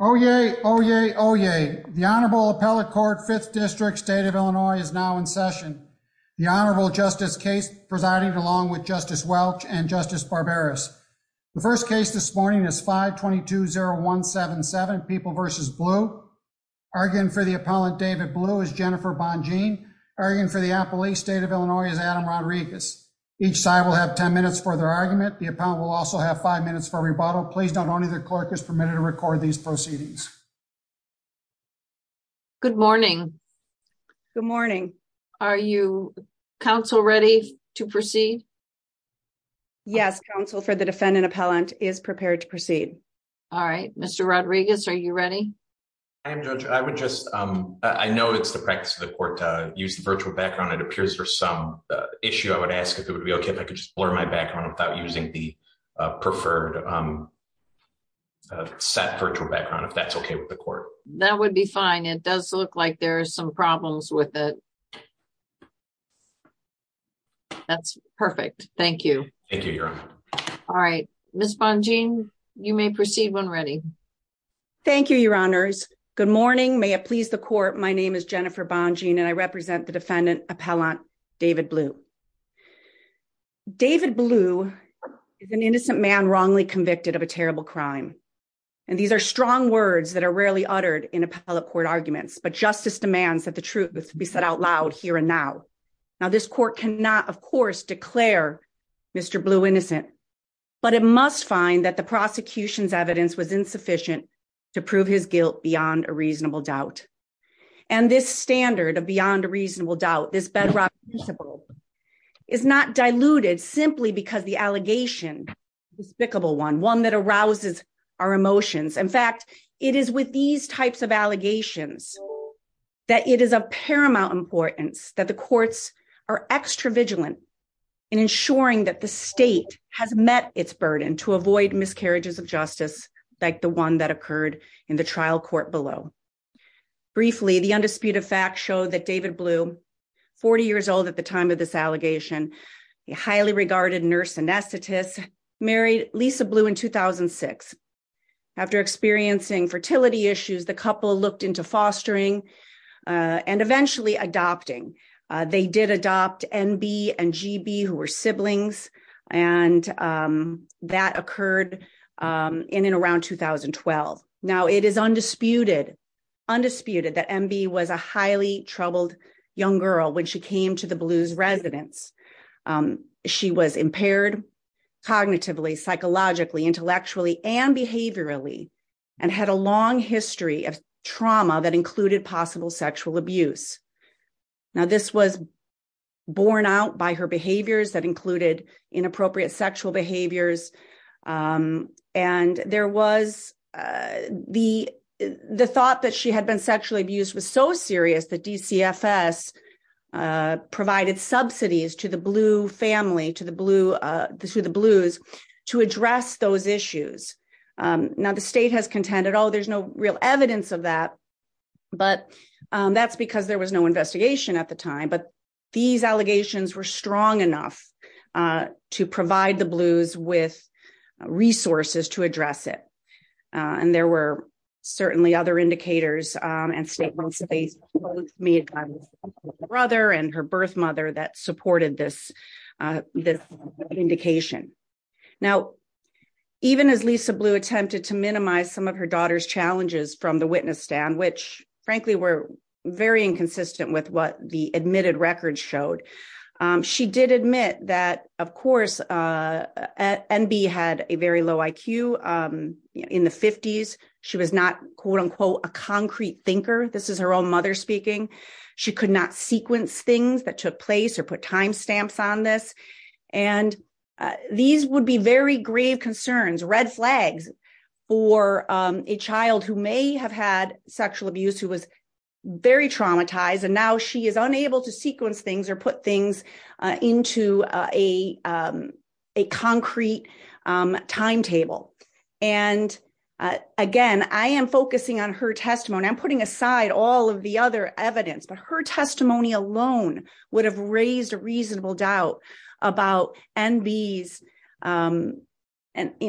Oyez, oyez, oyez. The Honorable Appellate Court, 5th District, State of Illinois, is now in session. The Honorable Justice Case presiding along with Justice Welch and Justice Barbaras. The first case this morning is 5-220-177, People v. Blue. Arguing for the Appellant, David Blue, is Jennifer Bonjean. Arguing for the Appellee, State of Illinois, is Adam Rodriguez. Each side will have 10 minutes for their argument. The Appellant will also have 5 minutes for proceedings. Good morning. Good morning. Are you, counsel, ready to proceed? Yes, counsel, for the defendant appellant is prepared to proceed. All right, Mr. Rodriguez, are you ready? I am, Judge. I would just, I know it's the practice of the court to use the virtual background. It appears there's some issue. I would ask if it would be okay if I could blur my background without using the preferred set virtual background, if that's okay with the court. That would be fine. It does look like there are some problems with it. That's perfect. Thank you. Thank you, Your Honor. All right, Ms. Bonjean, you may proceed when ready. Thank you, Your Honors. Good morning. May it please the court, my name is Jennifer Bonjean and I represent the defendant appellant David Blue. David Blue is an innocent man wrongly convicted of a terrible crime. And these are strong words that are rarely uttered in appellate court arguments, but justice demands that the truth be said out loud here and now. Now, this court cannot, of course, declare Mr. Blue innocent, but it must find that the prosecution's evidence was insufficient to prove his guilt beyond a reasonable doubt. And this standard of beyond a reasonable doubt, this bedrock principle is not diluted simply because the allegation is a despicable one, one that arouses our emotions. In fact, it is with these types of allegations that it is of paramount importance that the courts are extra vigilant in ensuring that the state has met its burden to avoid miscarriages of justice like the one that occurred in the trial court below. Briefly, the undisputed facts show that David Blue, 40 years old at the time of this allegation, a highly regarded nurse anesthetist, married Lisa Blue in 2006. After experiencing fertility issues, the couple looked into fostering and eventually adopting. They did adopt NB and GB who were siblings, and that occurred in and around 2012. Now, it is undisputed that NB was a highly troubled young girl when she came to the Blues residence. She was impaired cognitively, psychologically, intellectually, and behaviorally, and had a long history of trauma that included possible sexual abuse. Now, this was borne out by her behaviors that included inappropriate sexual behaviors, and there was the thought that she had been sexually abused was so serious that DCFS provided subsidies to the Blue family, to the Blues, to address those issues. Now, the state has contended, oh, there is no real evidence of that, but that is because there was no investigation at the time, but these allegations were strong enough to provide the Blues with resources to address it. There were certainly other indicators and statements that they made by her brother and her birth mother that supported this indication. Now, even as Lisa Blue attempted to minimize some of her daughter's challenges from the admitted records showed, she did admit that, of course, NB had a very low IQ. In the 50s, she was not, quote-unquote, a concrete thinker. This is her own mother speaking. She could not sequence things that took place or put time stamps on this, and these would be very grave concerns, red flags for a child who may have had sexual abuse, who was very traumatized, and now she is unable to sequence things or put things into a concrete timetable. Again, I am focusing on her testimony. I'm putting aside all of the other evidence, but her testimony alone would have raised a reasonable doubt about NB's, and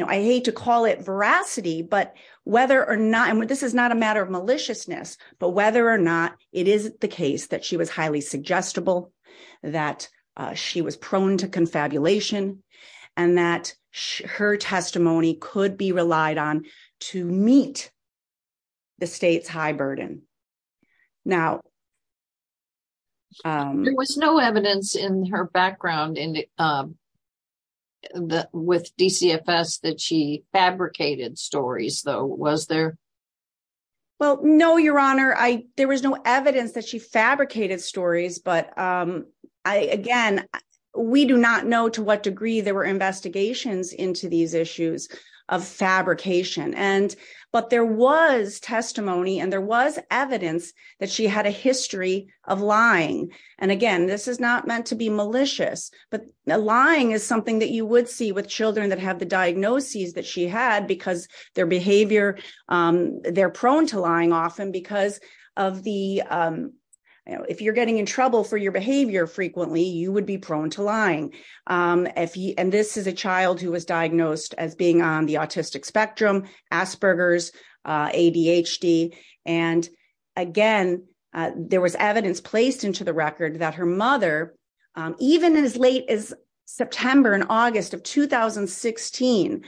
I hate to call it veracity, but whether or not, and this is not a matter of maliciousness, but whether or not it is the case that she was highly suggestible, that she was prone to confabulation, and that her testimony could be relied on to meet the state's high burden. There was no evidence in her background with DCFS that she fabricated stories, though, was there? Well, no, Your Honor. There was no evidence that she fabricated stories, but again, we do not know to what degree there were investigations into these issues of fabrication, but there was testimony and there was evidence that she had a history of lying, and again, this is not meant to be malicious, but lying is something that you would see with children that the diagnoses that she had because their behavior, they're prone to lying often because of the, if you're getting in trouble for your behavior frequently, you would be prone to lying, and this is a child who was diagnosed as being on the autistic spectrum, Asperger's, ADHD, and again, there was evidence placed into the record that her mother, even as late as September and August of 2016,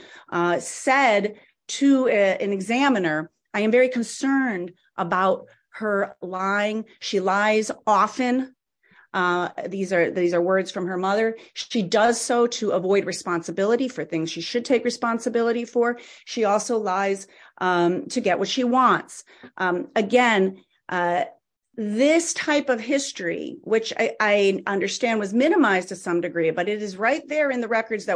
said to an examiner, I am very concerned about her lying. She lies often. These are words from her mother. She does so to avoid responsibility for things she should take responsibility for. She also lies to get what she wants. Again, this type of history, which I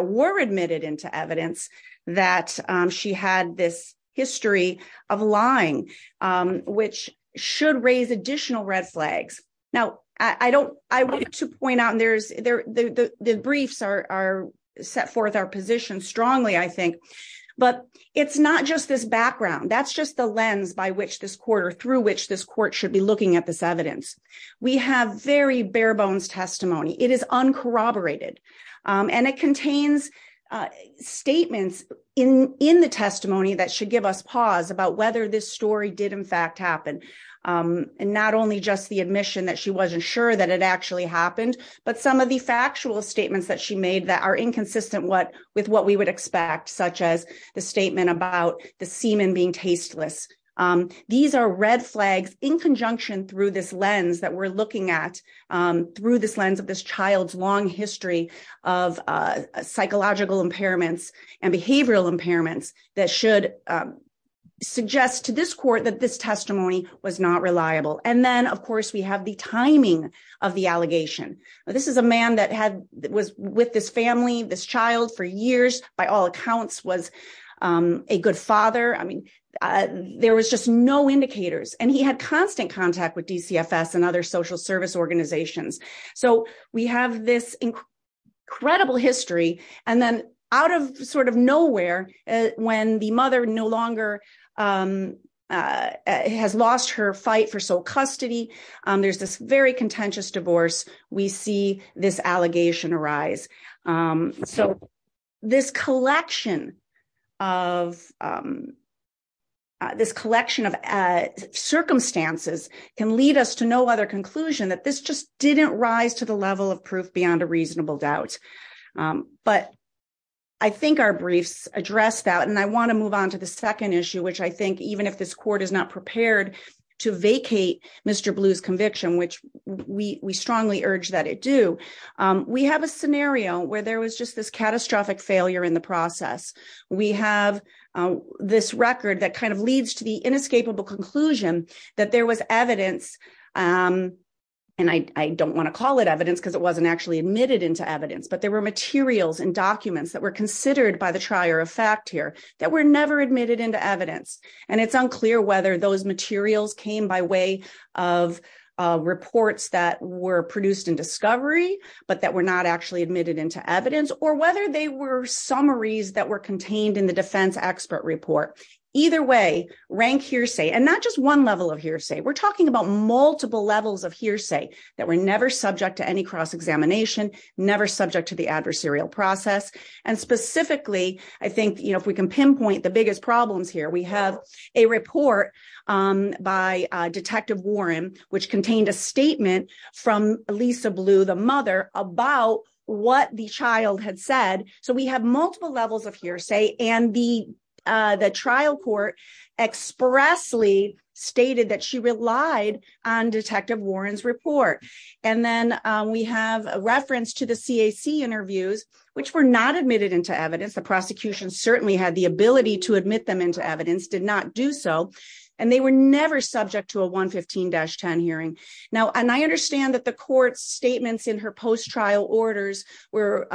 were admitted into evidence that she had this history of lying, which should raise additional red flags. Now, I don't, I wanted to point out, and there's, the briefs are, set forth our position strongly, I think, but it's not just this background. That's just the lens by which this court or through which this court should be looking at this evidence. We have very bare bones testimony. It is uncorroborated, and it contains statements in the testimony that should give us pause about whether this story did, in fact, happen, and not only just the admission that she wasn't sure that it actually happened, but some of the factual statements that she made that are inconsistent with what we would expect, such as the statement about the semen being tasteless. These are red this child's long history of psychological impairments and behavioral impairments that should suggest to this court that this testimony was not reliable. And then, of course, we have the timing of the allegation. This is a man that had, was with this family, this child for years, by all accounts, was a good father. I mean, there was just no indicators, and he had constant contact with DCFS and other social service organizations. So, we have this incredible history, and then out of sort of nowhere, when the mother no longer has lost her fight for sole custody, there's this very contentious divorce. We see this allegation arise. So, this collection of, this collection of circumstances can lead us to no other conclusion that this just didn't rise to the level of proof beyond a reasonable doubt. But I think our briefs address that, and I want to move on to the second issue, which I think, even if this court is not prepared to vacate Mr. Blue's conviction, which we strongly urge that it do, we have a scenario where there was this catastrophic failure in the process. We have this record that kind of leads to the inescapable conclusion that there was evidence, and I don't want to call it evidence because it wasn't actually admitted into evidence, but there were materials and documents that were considered by the trier of fact here that were never admitted into evidence. And it's unclear whether those materials came by way of reports that were produced in discovery, but that were not actually admitted into evidence, or whether they were summaries that were contained in the defense expert report. Either way, rank hearsay, and not just one level of hearsay, we're talking about multiple levels of hearsay that were never subject to any cross-examination, never subject to the adversarial process. And specifically, I think, you know, if we can pinpoint the biggest problems here, we have a report by Detective Warren, which contained a statement from Lisa Blue, the mother, about what the child had said. So we have multiple levels of hearsay, and the trial court expressly stated that she relied on Detective Warren's report. And then we have a reference to the CAC interviews, which were not admitted into evidence. The prosecution certainly had the ability to admit them into evidence, did not do so, and they were never subject to a 115-10 hearing. Now, and I were,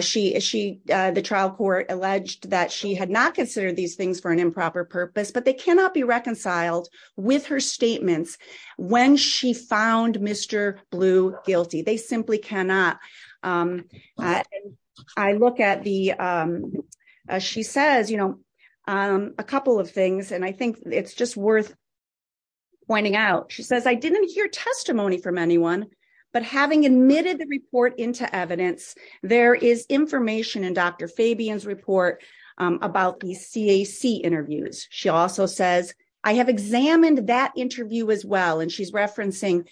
she, the trial court alleged that she had not considered these things for an improper purpose, but they cannot be reconciled with her statements when she found Mr. Blue guilty. They simply cannot. I look at the, she says, you know, a couple of things, and I think it's just worth pointing out. She says, I didn't hear testimony from anyone, but having admitted the report into evidence, there is information in Dr. Fabian's report about these CAC interviews. She also says, I have examined that interview as well, and she's referencing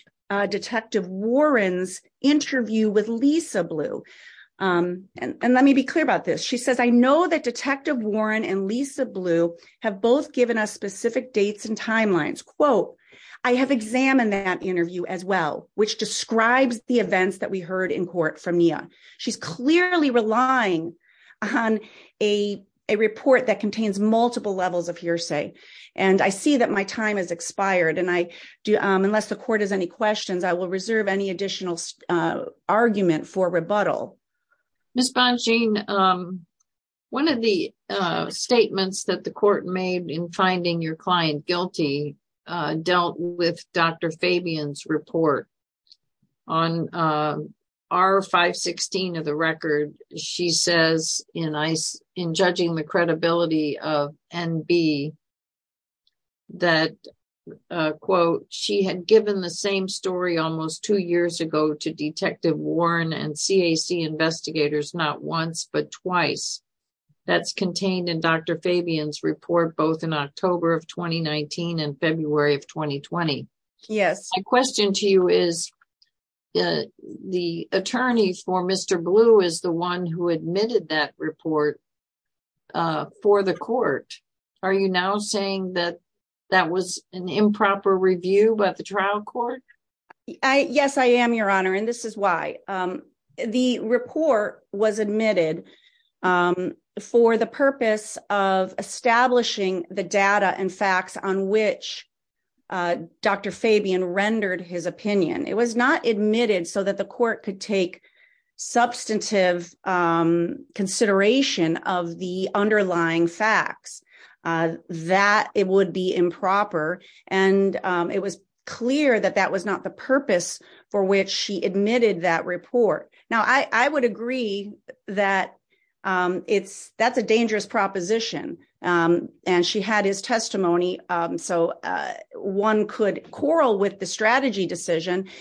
Detective Warren's interview with Lisa Blue. And let me be clear about this. She says, I know that Detective Warren and Lisa Blue have both given us specific dates and timelines. Quote, I have examined that interview as well, which describes the events that we heard in court from Mia. She's clearly relying on a report that contains multiple levels of hearsay. And I see that my time has expired, and I do, unless the court has any questions, I will reserve any additional argument for rebuttal. Ms. Bongean, one of the statements that the court made in finding your client guilty dealt with Dr. Fabian's report. On R-516 of the record, she says in judging the credibility of NB that, quote, she had given the same story almost two years ago to Detective Warren and CAC investigators not once, but twice. That's contained in Dr. Fabian's report, both in October of 2019 and February of 2020. My question to you is, the attorney for Mr. Blue is the one who admitted that report for the court. Are you now saying that that was an improper review by the trial court? Yes, I am, Your Honor, and this is why. The report was admitted for the purpose of establishing the data and facts on which Dr. Fabian rendered his opinion. It was not admitted so that the court could take substantive consideration of the underlying facts. That it would be improper, and it was clear that that was not the purpose for which she admitted that report. Now, I would agree that that's a dangerous proposition, and she had his testimony, so one could quarrel with the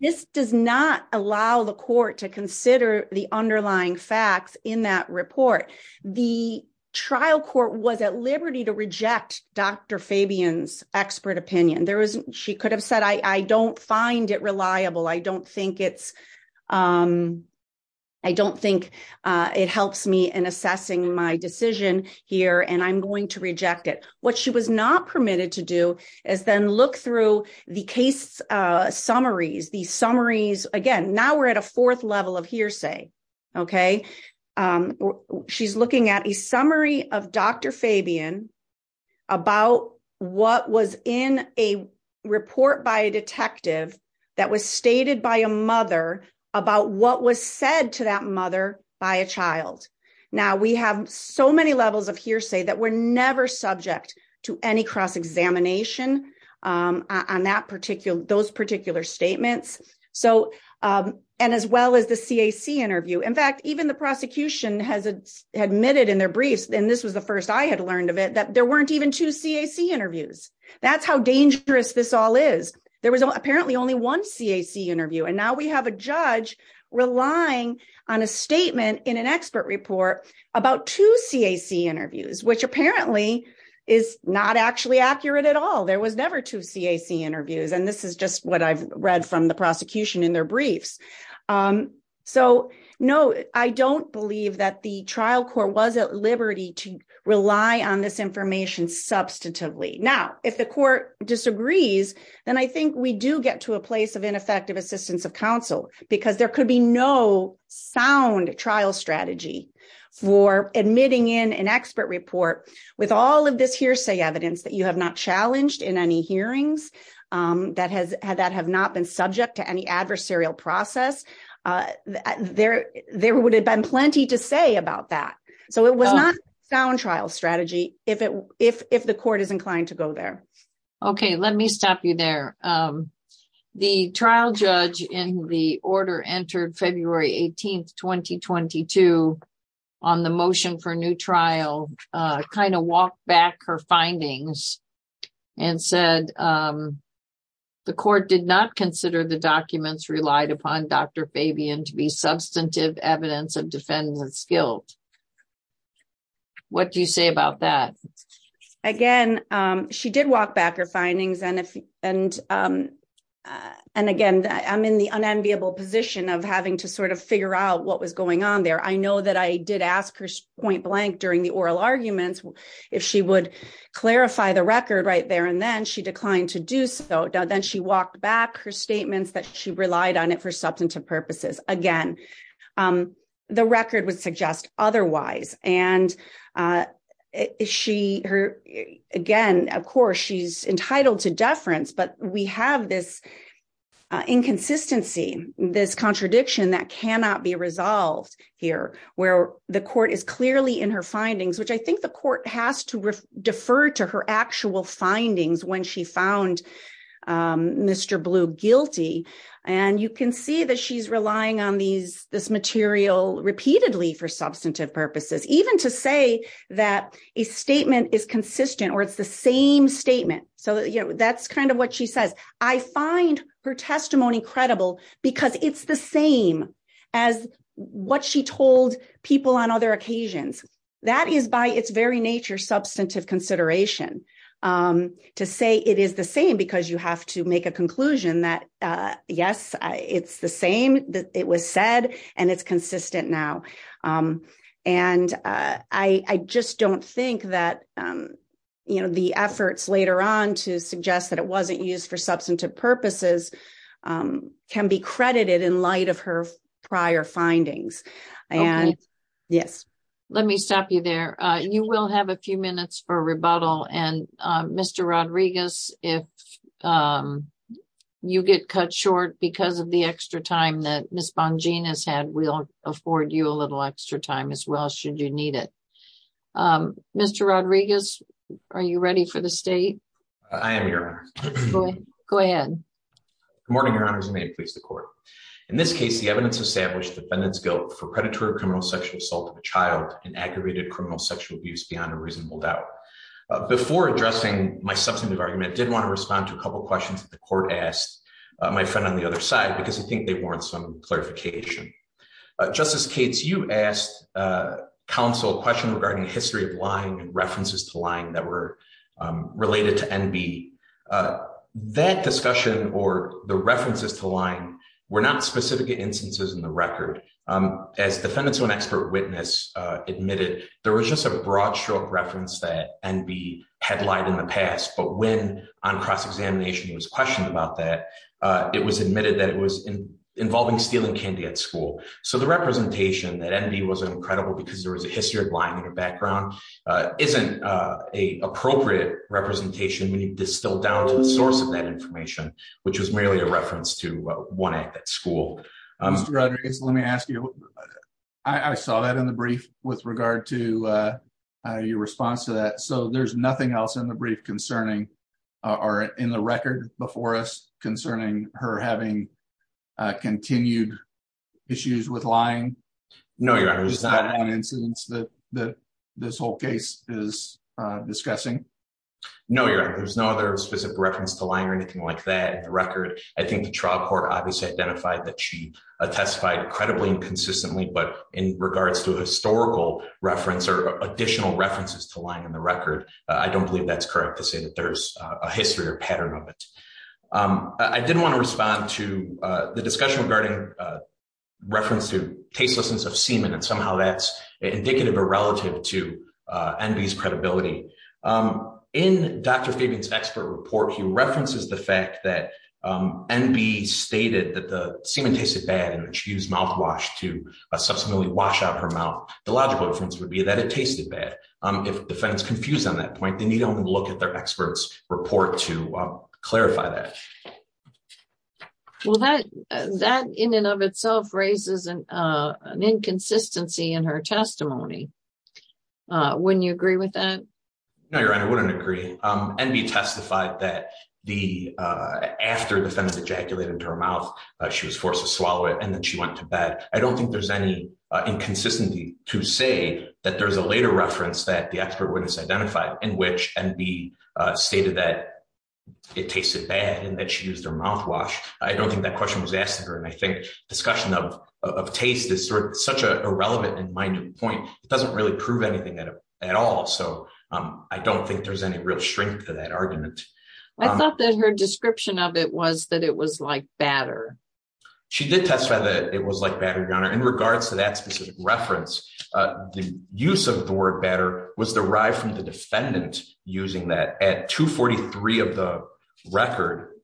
This does not allow the court to consider the underlying facts in that report. The trial court was at liberty to reject Dr. Fabian's expert opinion. She could have said, I don't find it reliable. I don't think it helps me in assessing my decision here, and I'm going to reject it. What she was not permitted to do is then look through the case summaries. Again, now we're at a fourth level of hearsay. She's looking at a summary of Dr. Fabian about what was in a report by a detective that was stated by a mother about what was said to mother by a child. Now, we have so many levels of hearsay that we're never subject to any cross examination on those particular statements, and as well as the CAC interview. In fact, even the prosecution has admitted in their briefs, and this was the first I had learned of it, that there weren't even two CAC interviews. That's how dangerous this all is. There was apparently only one CAC interview, and now we have a judge relying on a statement in an expert report about two CAC interviews, which apparently is not actually accurate at all. There was never two CAC interviews, and this is just what I've read from the prosecution in their briefs. No, I don't believe that the trial court was at liberty to rely on this information substantively. Now, if the court disagrees, then I think we do get to a place of ineffective assistance of counsel because there could be no sound trial strategy for admitting in an expert report with all of this hearsay evidence that you have not challenged in any hearings, that have not been subject to any adversarial process. There would have been plenty to say about that, so it was not sound trial strategy if the court is inclined to go there. Okay, let me stop you there. The trial judge in the order entered February 18, 2022, on the motion for a new trial, kind of walked back her findings and said, the court did not consider the documents relied upon Dr. Fabian to be substantive evidence of guilt. What do you say about that? Again, she did walk back her findings, and again, I'm in the unenviable position of having to sort of figure out what was going on there. I know that I did ask her point blank during the oral arguments if she would clarify the record right there and then. She declined to do so. Then she walked back her statements that she relied on it for otherwise. Again, of course, she's entitled to deference, but we have this inconsistency, this contradiction that cannot be resolved here, where the court is clearly in her findings, which I think the court has to defer to her actual findings when she found Mr. Blue guilty. You can see that she's relying on this material repeatedly for substantive purposes, even to say that a statement is consistent or it's the same statement. That's kind of what she says. I find her testimony credible because it's the same as what she told people on other occasions. That is by its very nature substantive consideration to say it is the same because you have to make a conclusion that, yes, it's the same, it was said, and it's consistent now. I just don't think that the efforts later on to suggest that it wasn't used for substantive purposes can be credited in light of her prior findings. Yes. Let me stop you there. You will have a few minutes for rebuttal. Mr. Rodriguez, if you get cut short because of the extra time that Ms. Bongina has had, we'll afford you a little extra time as well should you need it. Mr. Rodriguez, are you ready for the state? I am, Your Honor. Go ahead. Good morning, Your Honors, and may it please the court. In this case, the evidence established the defendant's guilt for predatory criminal sexual assault of a child and aggravated criminal sexual abuse beyond a reasonable doubt. Before addressing my substantive argument, I did want to respond to a couple of questions that the court asked my friend on the other side because I think they warrant some clarification. Justice Cates, you asked counsel a question regarding the history of lying and references to lying that were related to NB. That discussion or the references to lying were not specific instances in the record. As defendant's own expert witness admitted, there was just a broad stroke reference that NB had lied in the past, but when on cross-examination he was questioned about that, it was admitted that it was involving stealing candy at school. So the representation that NB was an incredible because there was a history of lying in her background isn't an appropriate representation. We need to distill down to the source of that information, which was merely a lie. I saw that in the brief with regard to your response to that. So there's nothing else in the brief concerning or in the record before us concerning her having continued issues with lying? No, your honor. There's no other specific reference to lying or anything like that in the record. I think the trial court obviously identified that she testified credibly and consistently, but in regards to historical reference or additional references to lying in the record, I don't believe that's correct to say that there's a history or pattern of it. I did want to respond to the discussion regarding reference to tastelessness of semen, and somehow that's indicative or relative to NB's credibility. In Dr. Fabian's expert report, he references the fact that NB stated that the semen tasted bad, and when she used mouthwash to subsequently wash out her mouth, the logical inference would be that it tasted bad. If the defendant's confused on that point, they need to look at their expert's report to clarify that. Well, that in and of itself raises an inconsistency in her testimony. Wouldn't you agree with that? No, your honor. I wouldn't agree. NB testified that after the defendant ejaculated into her mouth, she was forced to swallow it, and then she went to bed. I don't think there's any inconsistency to say that there's a later reference that the expert witness identified in which NB stated that it tasted bad and that she used her mouthwash. I don't think that question was asked of her, and I think discussion of taste is such a relevant and doesn't really prove anything at all, so I don't think there's any real strength to that argument. I thought that her description of it was that it was like batter. She did testify that it was like batter, your honor. In regards to that specific reference, the use of the word batter was derived from the defendant using that. At 243 of the record,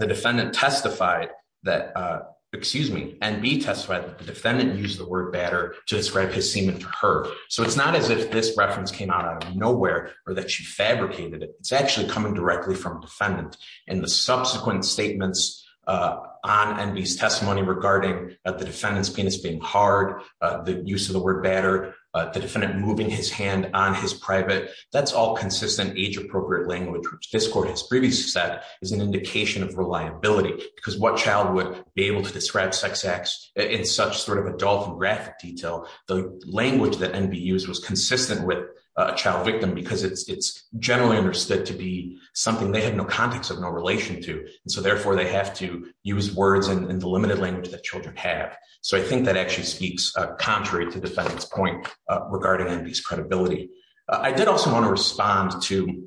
the defendant testified that, excuse me, NB testified that the defendant used the word to describe his semen to her, so it's not as if this reference came out of nowhere or that she fabricated it. It's actually coming directly from the defendant, and the subsequent statements on NB's testimony regarding the defendant's penis being hard, the use of the word batter, the defendant moving his hand on his private, that's all consistent age-appropriate language, which this court has previously said is an indication of reliability because what child would be able to describe sex acts in such sort of adult graphic detail, the language that NB used was consistent with a child victim because it's generally understood to be something they had no context of, no relation to, and so therefore they have to use words in the limited language that children have, so I think that actually speaks contrary to the defendant's point regarding NB's credibility. I did also want to respond to...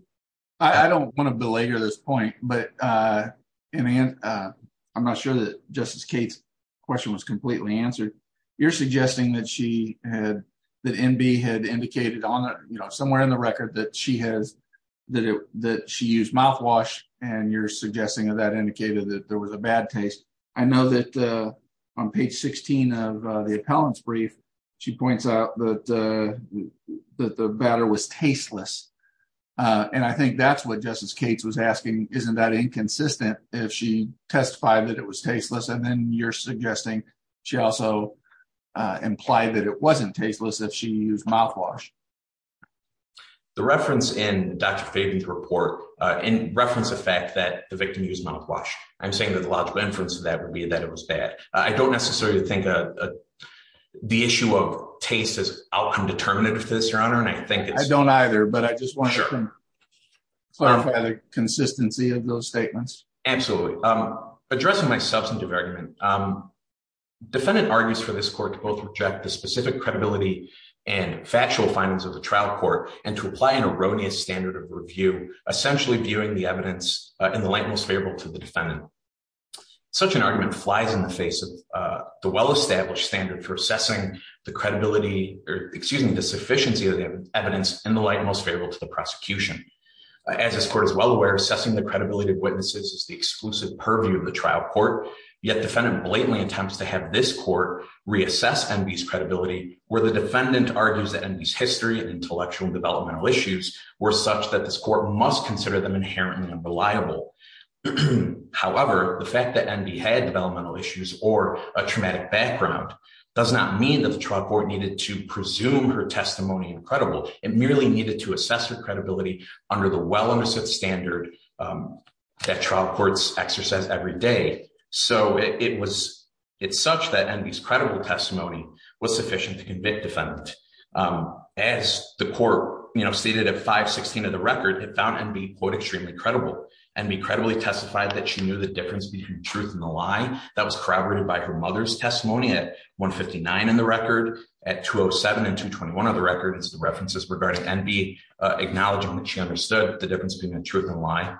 And I'm not sure that Justice Cates' question was completely answered. You're suggesting that NB had indicated somewhere in the record that she used mouthwash, and you're suggesting that indicated that there was a bad taste. I know that on page 16 of the appellant's brief, she points out that the batter was tasteless, and I think that's what Justice Cates was asking, isn't that inconsistent if she testified that it was tasteless, and then you're suggesting she also implied that it wasn't tasteless if she used mouthwash. The reference in Dr. Fabian's report, in reference to the fact that the victim used mouthwash, I'm saying that the logical inference of that would be that it was bad. I don't necessarily think the issue of taste is outcome-determinative to this, Your Honor, and I think it's... I don't either, but I just wanted to clarify the consistency of those statements. Absolutely. Addressing my substantive argument, defendant argues for this court to both reject the specific credibility and factual findings of the trial court, and to apply an erroneous standard of review, essentially viewing the evidence in the light most favorable to the defendant. Such an argument flies in the face of the well-established standard for assessing the credibility, or excuse me, the sufficiency of the evidence in the light most favorable to the prosecution. As this court is well aware, assessing the credibility of witnesses is the exclusive purview of the trial court, yet defendant blatantly attempts to have this court reassess Enby's credibility, where the defendant argues that Enby's history and intellectual and developmental issues were such that this court must consider them inherently unreliable. However, the fact that Enby had developmental issues or a traumatic background does not mean that the trial court needed to presume her testimony incredible. It merely needed to assess her credibility under the well-understood standard that trial courts exercise every day. So it's such that Enby's credible testimony was sufficient to convict defendant. As the court stated at 516 of the record, it found Enby, quote, extremely credible. Enby credibly testified that she knew the difference between truth and a lie. That was corroborated by her mother's testimony at 159 in the record, at 207 and 221 of the record. It's the references regarding Enby acknowledging that she understood the difference between truth and lie.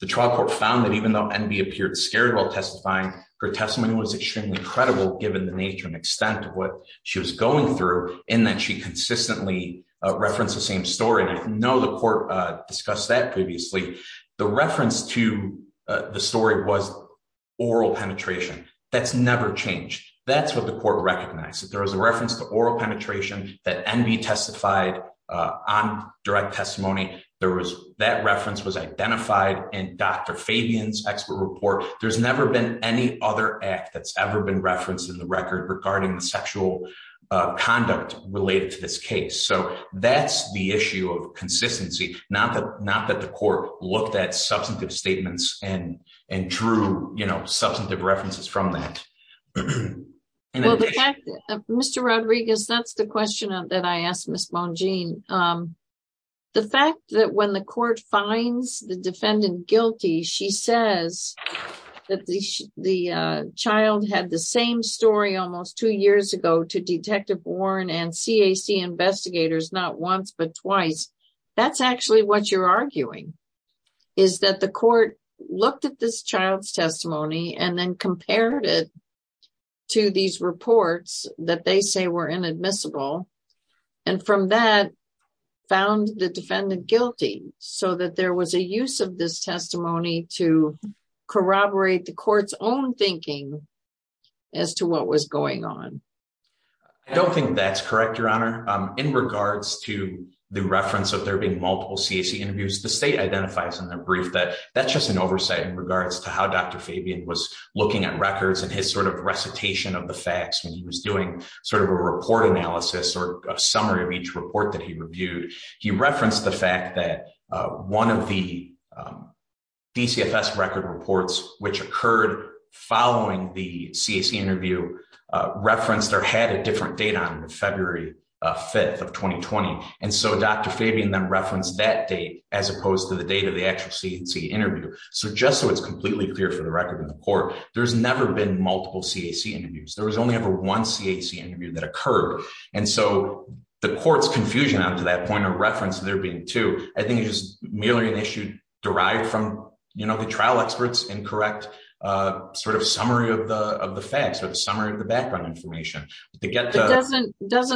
The trial court found that even though Enby appeared scared while testifying, her testimony was extremely credible given the nature and extent of what she was going through, and that she consistently referenced the same story. I know the court discussed that previously. The reference to the story was oral penetration. That's never changed. That's what the court recognized. There was a reference to oral penetration that Enby testified on direct testimony. That reference was identified in Dr. Fabian's expert report. There's never been any other act that's ever been referenced in the record regarding the sexual conduct related to this case. That's the issue of consistency, not that the court looked at substantive statements and drew substantive references from that. Mr. Rodriguez, that's the question that I asked Ms. Bonjean. The fact that when the court finds the defendant guilty, she says that the child had the same story almost two years ago to Detective Warren and CAC investigators not once but twice, that's actually what you're arguing. The court looked at this child's testimony and then compared it to these reports that they say were inadmissible. From that, found the defendant guilty so that there was a use of this testimony to corroborate the court's own thinking as to what was going on. I don't think that's correct, Your Honor. In regards to the reference of there being multiple CAC interviews, the state identifies in their brief that that's just an oversight in regards to how Dr. Fabian was looking at records and his recitation of the facts when he was doing a report analysis or a summary of each report that he reviewed. He referenced the one of the DCFS record reports which occurred following the CAC interview referenced or had a different date on February 5th of 2020. Dr. Fabian then referenced that date as opposed to the date of the actual CAC interview. Just so it's completely clear for the record of the court, there's never been multiple CAC interviews. There was only ever one CAC interview that occurred. And so the court's confusion out to that point of reference there being two, I think is merely an issue derived from the trial experts incorrect summary of the facts or the summary of the background information. Doesn't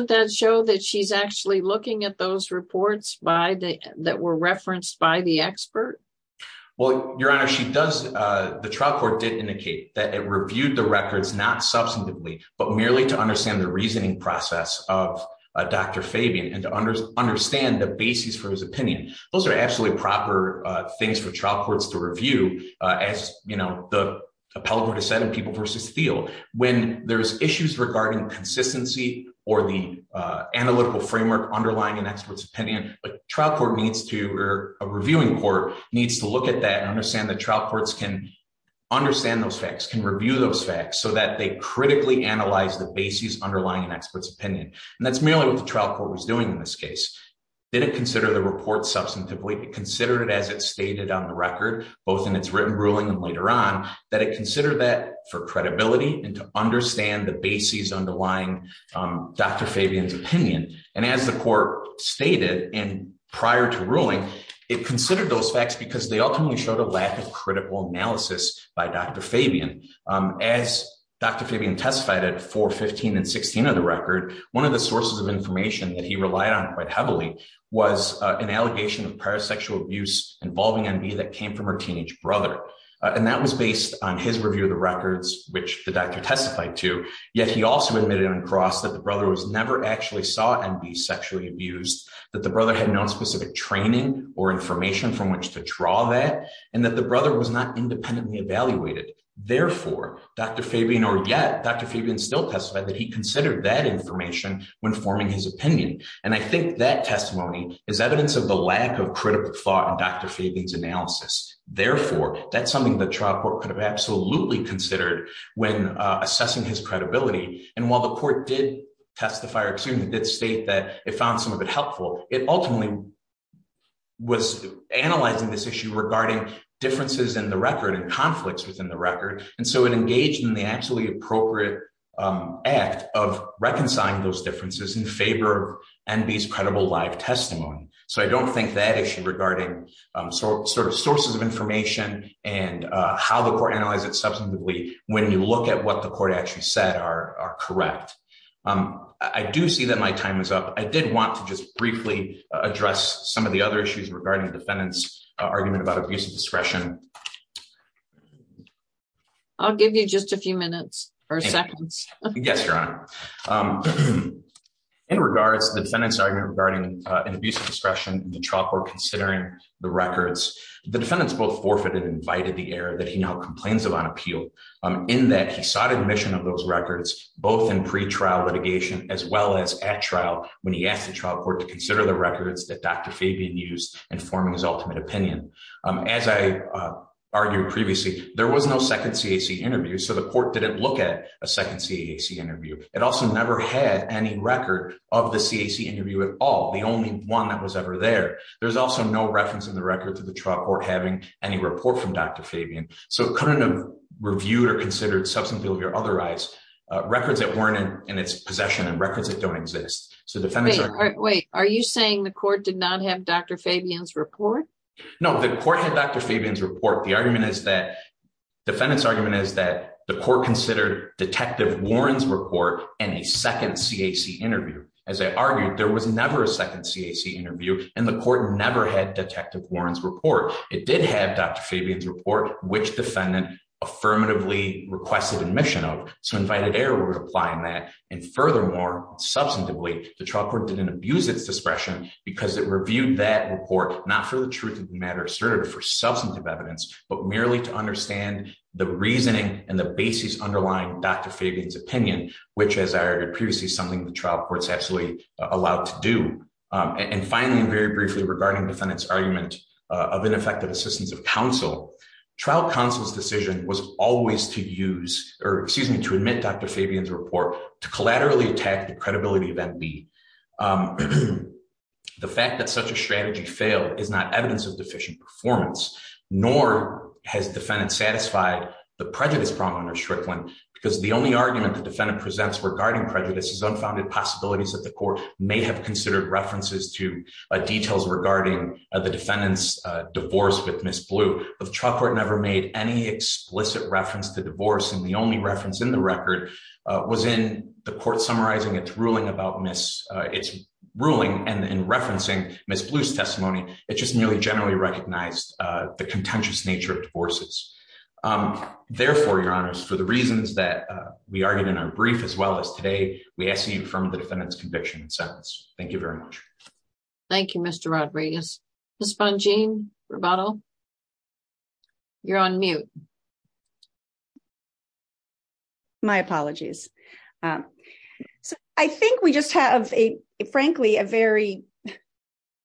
that show that she's actually looking at those reports that were referenced by the expert? Well, Your Honor, the trial court did indicate that it reasoning process of Dr. Fabian and to understand the basis for his opinion. Those are absolutely proper things for trial courts to review. As the appellate court has said in People v. Thiel, when there's issues regarding consistency or the analytical framework underlying an expert's opinion, a reviewing court needs to look at that and understand that trial courts can review those facts so that they critically analyze the basis underlying an expert's opinion. And that's merely what the trial court was doing in this case. They didn't consider the report substantively. They considered it as it stated on the record, both in its written ruling and later on, that it considered that for credibility and to understand the basis underlying Dr. Fabian's opinion. And as the court stated and prior to ruling, it considered those facts because they were based on evidence. As Dr. Fabian testified at 415 and 16 of the record, one of the sources of information that he relied on quite heavily was an allegation of parasexual abuse involving NB that came from her teenage brother. And that was based on his review of the records, which the doctor testified to. Yet he also admitted on cross that the brother was never actually saw NB sexually abused, that the brother had no specific training or information from which to draw that, and that brother was not independently evaluated. Therefore, Dr. Fabian, or yet Dr. Fabian still testified that he considered that information when forming his opinion. And I think that testimony is evidence of the lack of critical thought in Dr. Fabian's analysis. Therefore, that's something the trial court could have absolutely considered when assessing his credibility. And while the court did testify or did state that it found some of it helpful, it ultimately was analyzing this issue regarding differences in the record and conflicts within the record. And so it engaged in the actually appropriate act of reconciling those differences in favor of NB's credible live testimony. So I don't think that issue regarding sort of sources of information and how the court analyzes it substantively when you look at what the court actually said are correct. I do see that my time is up. I did want to just briefly address some of the other issues regarding defendant's abuse of discretion. I'll give you just a few minutes or seconds. Yes, Your Honor. In regards to the defendant's argument regarding an abuse of discretion in the trial court considering the records, the defendants both forfeited and invited the error that he now complains of on appeal in that he sought admission of those records both in pre-trial litigation as well as at trial when he asked the trial court to consider the records that Dr. Fabian used in forming his as I argued previously, there was no second CAC interview. So the court didn't look at a second CAC interview. It also never had any record of the CAC interview at all. The only one that was ever there. There's also no reference in the record to the trial court having any report from Dr. Fabian. So it couldn't have reviewed or considered substantively or otherwise records that weren't in its possession and records that don't exist. So the defendants- Wait, are you saying the court did not have Dr. Fabian's report? No, the court had Dr. Fabian's report. The argument is that- defendant's argument is that the court considered Detective Warren's report and a second CAC interview. As I argued, there was never a second CAC interview and the court never had Detective Warren's report. It did have Dr. Fabian's report which defendant affirmatively requested admission of. So invited error were applying that and furthermore substantively, the trial court didn't abuse its discretion because it reviewed that report not for the truth of the matter asserted for substantive evidence but merely to understand the reasoning and the basis underlying Dr. Fabian's opinion which as I argued previously, something the trial court's actually allowed to do. And finally, very briefly regarding defendant's argument of ineffective assistance of counsel, trial counsel's decision was always to use or excuse me to admit Dr. Fabian's to collaterally attack the credibility of MB. The fact that such a strategy failed is not evidence of deficient performance nor has defendant satisfied the prejudice problem under Strickland because the only argument the defendant presents regarding prejudice is unfounded possibilities that the court may have considered references to details regarding the defendant's divorce with Ms. Blue. The trial court never made any explicit reference to divorce and the only court summarizing its ruling and referencing Ms. Blue's testimony, it just nearly generally recognized the contentious nature of divorces. Therefore, your honors, for the reasons that we argued in our brief as well as today, we ask you to confirm the defendant's conviction and sentence. Thank you very much. Thank you, Mr. Rodriguez. Ms. Bongean, rebuttal? You're on mute. My apologies. I think we just have a, frankly, a very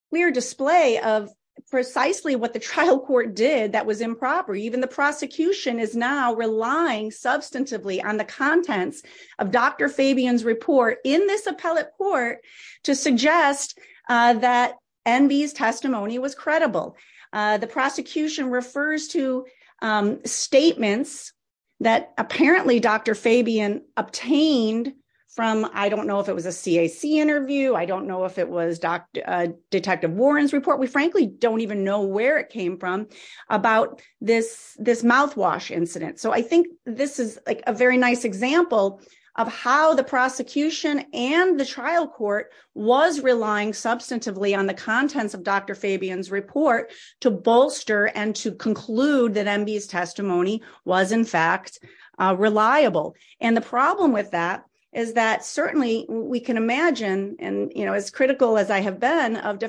clear display of precisely what the trial court did that was improper. Even the prosecution is now relying substantively on the contents of Dr. Fabian's report in this appellate court to suggest that MB's testimony was credible. The prosecution refers to statements that apparently Dr. Fabian obtained from, I don't know if it was a CAC interview. I don't know if it was Detective Warren's report. We, frankly, don't even know where it came from about this mouthwash incident. I think this is a very nice example of how the prosecution and the trial court was relying substantively on the contents of Dr. Fabian's report to bolster and to conclude that MB's testimony was, in fact, reliable. The problem with that is that certainly we can imagine, as critical as I have been of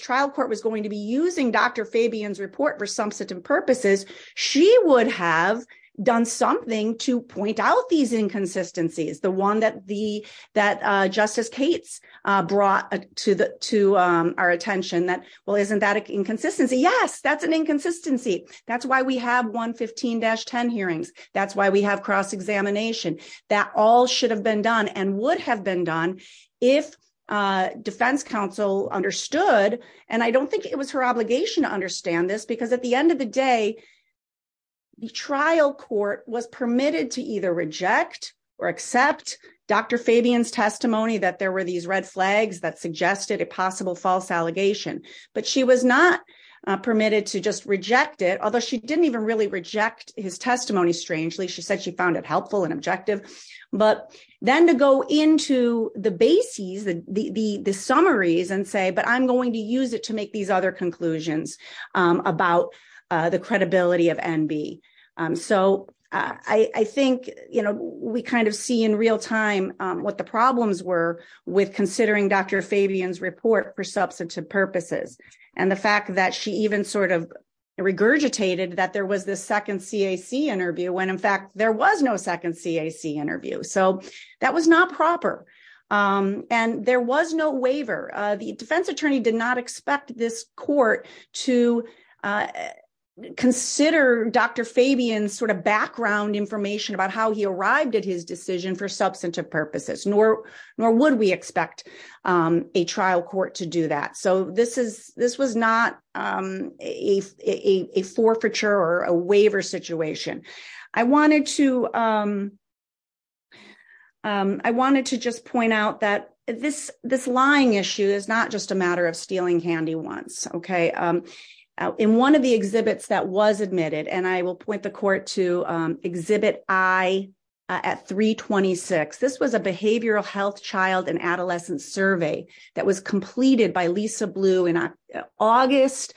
trial court was going to be using Dr. Fabian's report for substantive purposes, she would have done something to point out these inconsistencies. The one that Justice Cates brought to our attention that, well, isn't that an inconsistency? Yes, that's an inconsistency. That's why we have 115-10 hearings. That's why we have cross-examination. That all should have been and would have been done if defense counsel understood. I don't think it was her obligation to understand this because at the end of the day, the trial court was permitted to either reject or accept Dr. Fabian's testimony that there were these red flags that suggested a possible false allegation. She was not permitted to just reject it, although she didn't even really reject his testimony. I'm going to go into the bases, the summaries, and say, but I'm going to use it to make these other conclusions about the credibility of MB. I think we see in real time what the problems were with considering Dr. Fabian's report for substantive purposes and the fact that she even regurgitated that there was this second CAC interview when, in fact, there was no second CAC interview. That was not proper. There was no waiver. The defense attorney did not expect this court to consider Dr. Fabian's background information about how he arrived at his decision for substantive purposes, nor would we expect a trial court to do that. This was not a forfeiture or a waiver situation. I wanted to just point out that this lying issue is not just a matter of stealing candy once. In one of the exhibits that was admitted, and I will point the court to Exhibit I at 326, this was a behavioral health child and adolescent survey that was completed by Lisa Blue in August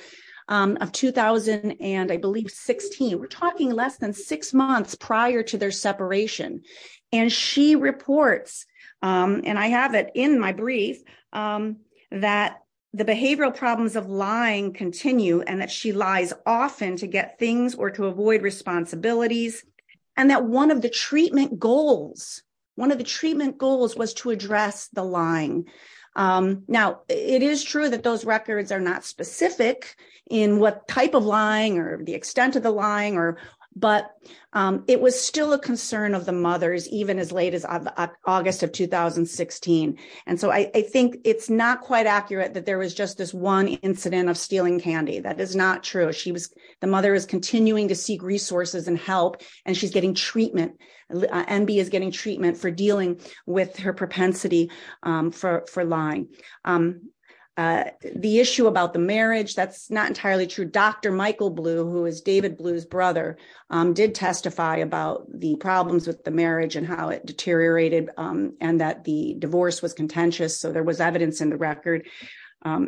of 2000, and I believe 2016. We're talking less than six months prior to their separation. She reports, and I have it in my brief, that the behavioral problems of lying continue and that she lies often to get things or to avoid responsibilities, and that one of the treatment goals was to address the lying. Now, it is true that those records are not specific in what type of lying or the extent of the lying, but it was still a concern of the mothers even as late as August of 2016. I think it's not quite accurate that there was just this one incident of stealing candy. That is not true. The mother is continuing to seek resources and help, and MB is getting treatment for dealing with her propensity for lying. The issue about the marriage, that's not entirely true. Dr. Michael Blue, who is David Blue's brother, did testify about the problems with the marriage and how it deteriorated and that the divorce was contentious, so there was evidence in the record.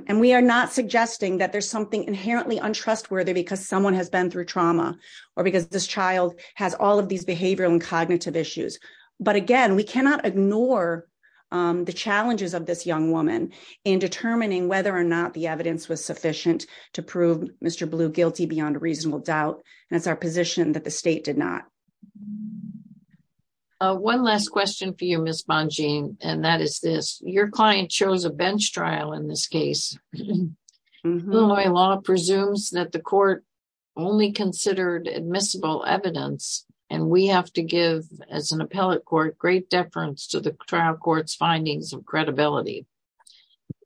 We are not suggesting that there's something inherently untrustworthy because someone has been through trauma or because this child has all of these behavioral and cognitive issues, but again, we cannot ignore the challenges of this young woman in determining whether or not the evidence was sufficient to prove Mr. Blue guilty beyond a reasonable doubt, and it's our position that the state did not. One last question for you, Ms. Bongean, and that is this. Your client chose a bench trial in this case. Illinois law presumes that the court only considered admissible evidence, and we have to give, as an appellate court, great deference to the trial court's findings of credibility.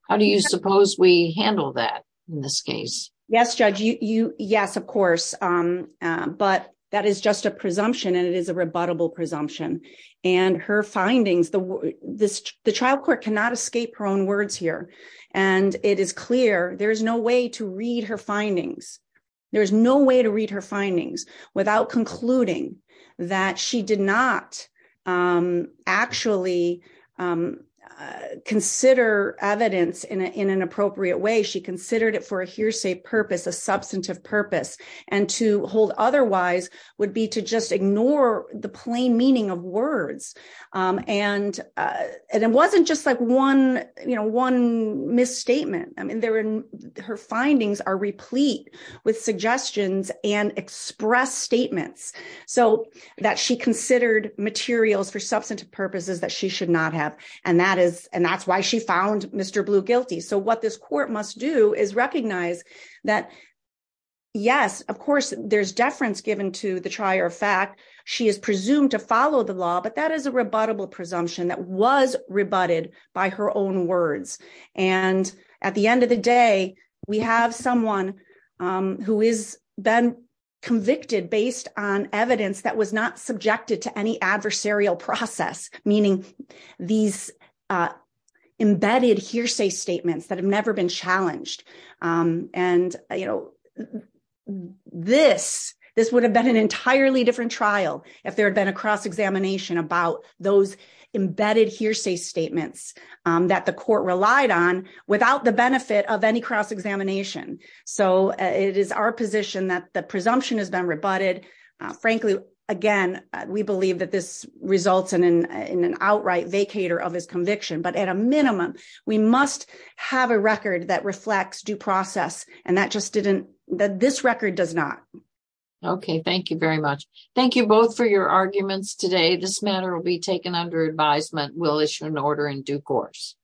How do you suppose we handle that in this case? Yes, Judge. Yes, of course, but that is just a presumption, and it is a rebuttable presumption, and her findings, the trial court cannot escape her own words here, and it is clear there is no way to read her findings. There is no way to read her findings without concluding that she did not actually consider evidence in an appropriate way. She considered it for a hearsay purpose, a substantive purpose, and to hold otherwise would be to just ignore the plain meaning of words, and it wasn't just like one misstatement. I mean, her findings are replete with suggestions and express statements that she considered materials for substantive purposes that she should not have, and that's why she found Mr. Blue guilty. So what this court must do is recognize that, yes, of course, there's deference given to the trier of fact. She is presumed to follow the law, but that is a rebuttable presumption that was rebutted by her own words, and at the end of the day, we have someone who has been convicted based on evidence that was not subjected to any adversarial process, meaning these embedded hearsay statements that have never been challenged, and this would have been an entirely different trial if there had been a cross-examination about those embedded hearsay statements that the court relied on without the benefit of any cross-examination. So it is our position that the presumption has been rebutted. Frankly, again, we believe that results in an outright vacator of his conviction, but at a minimum, we must have a record that reflects due process, and this record does not. Okay. Thank you very much. Thank you both for your arguments today. This matter will be taken under advisement. We'll issue an order in due course.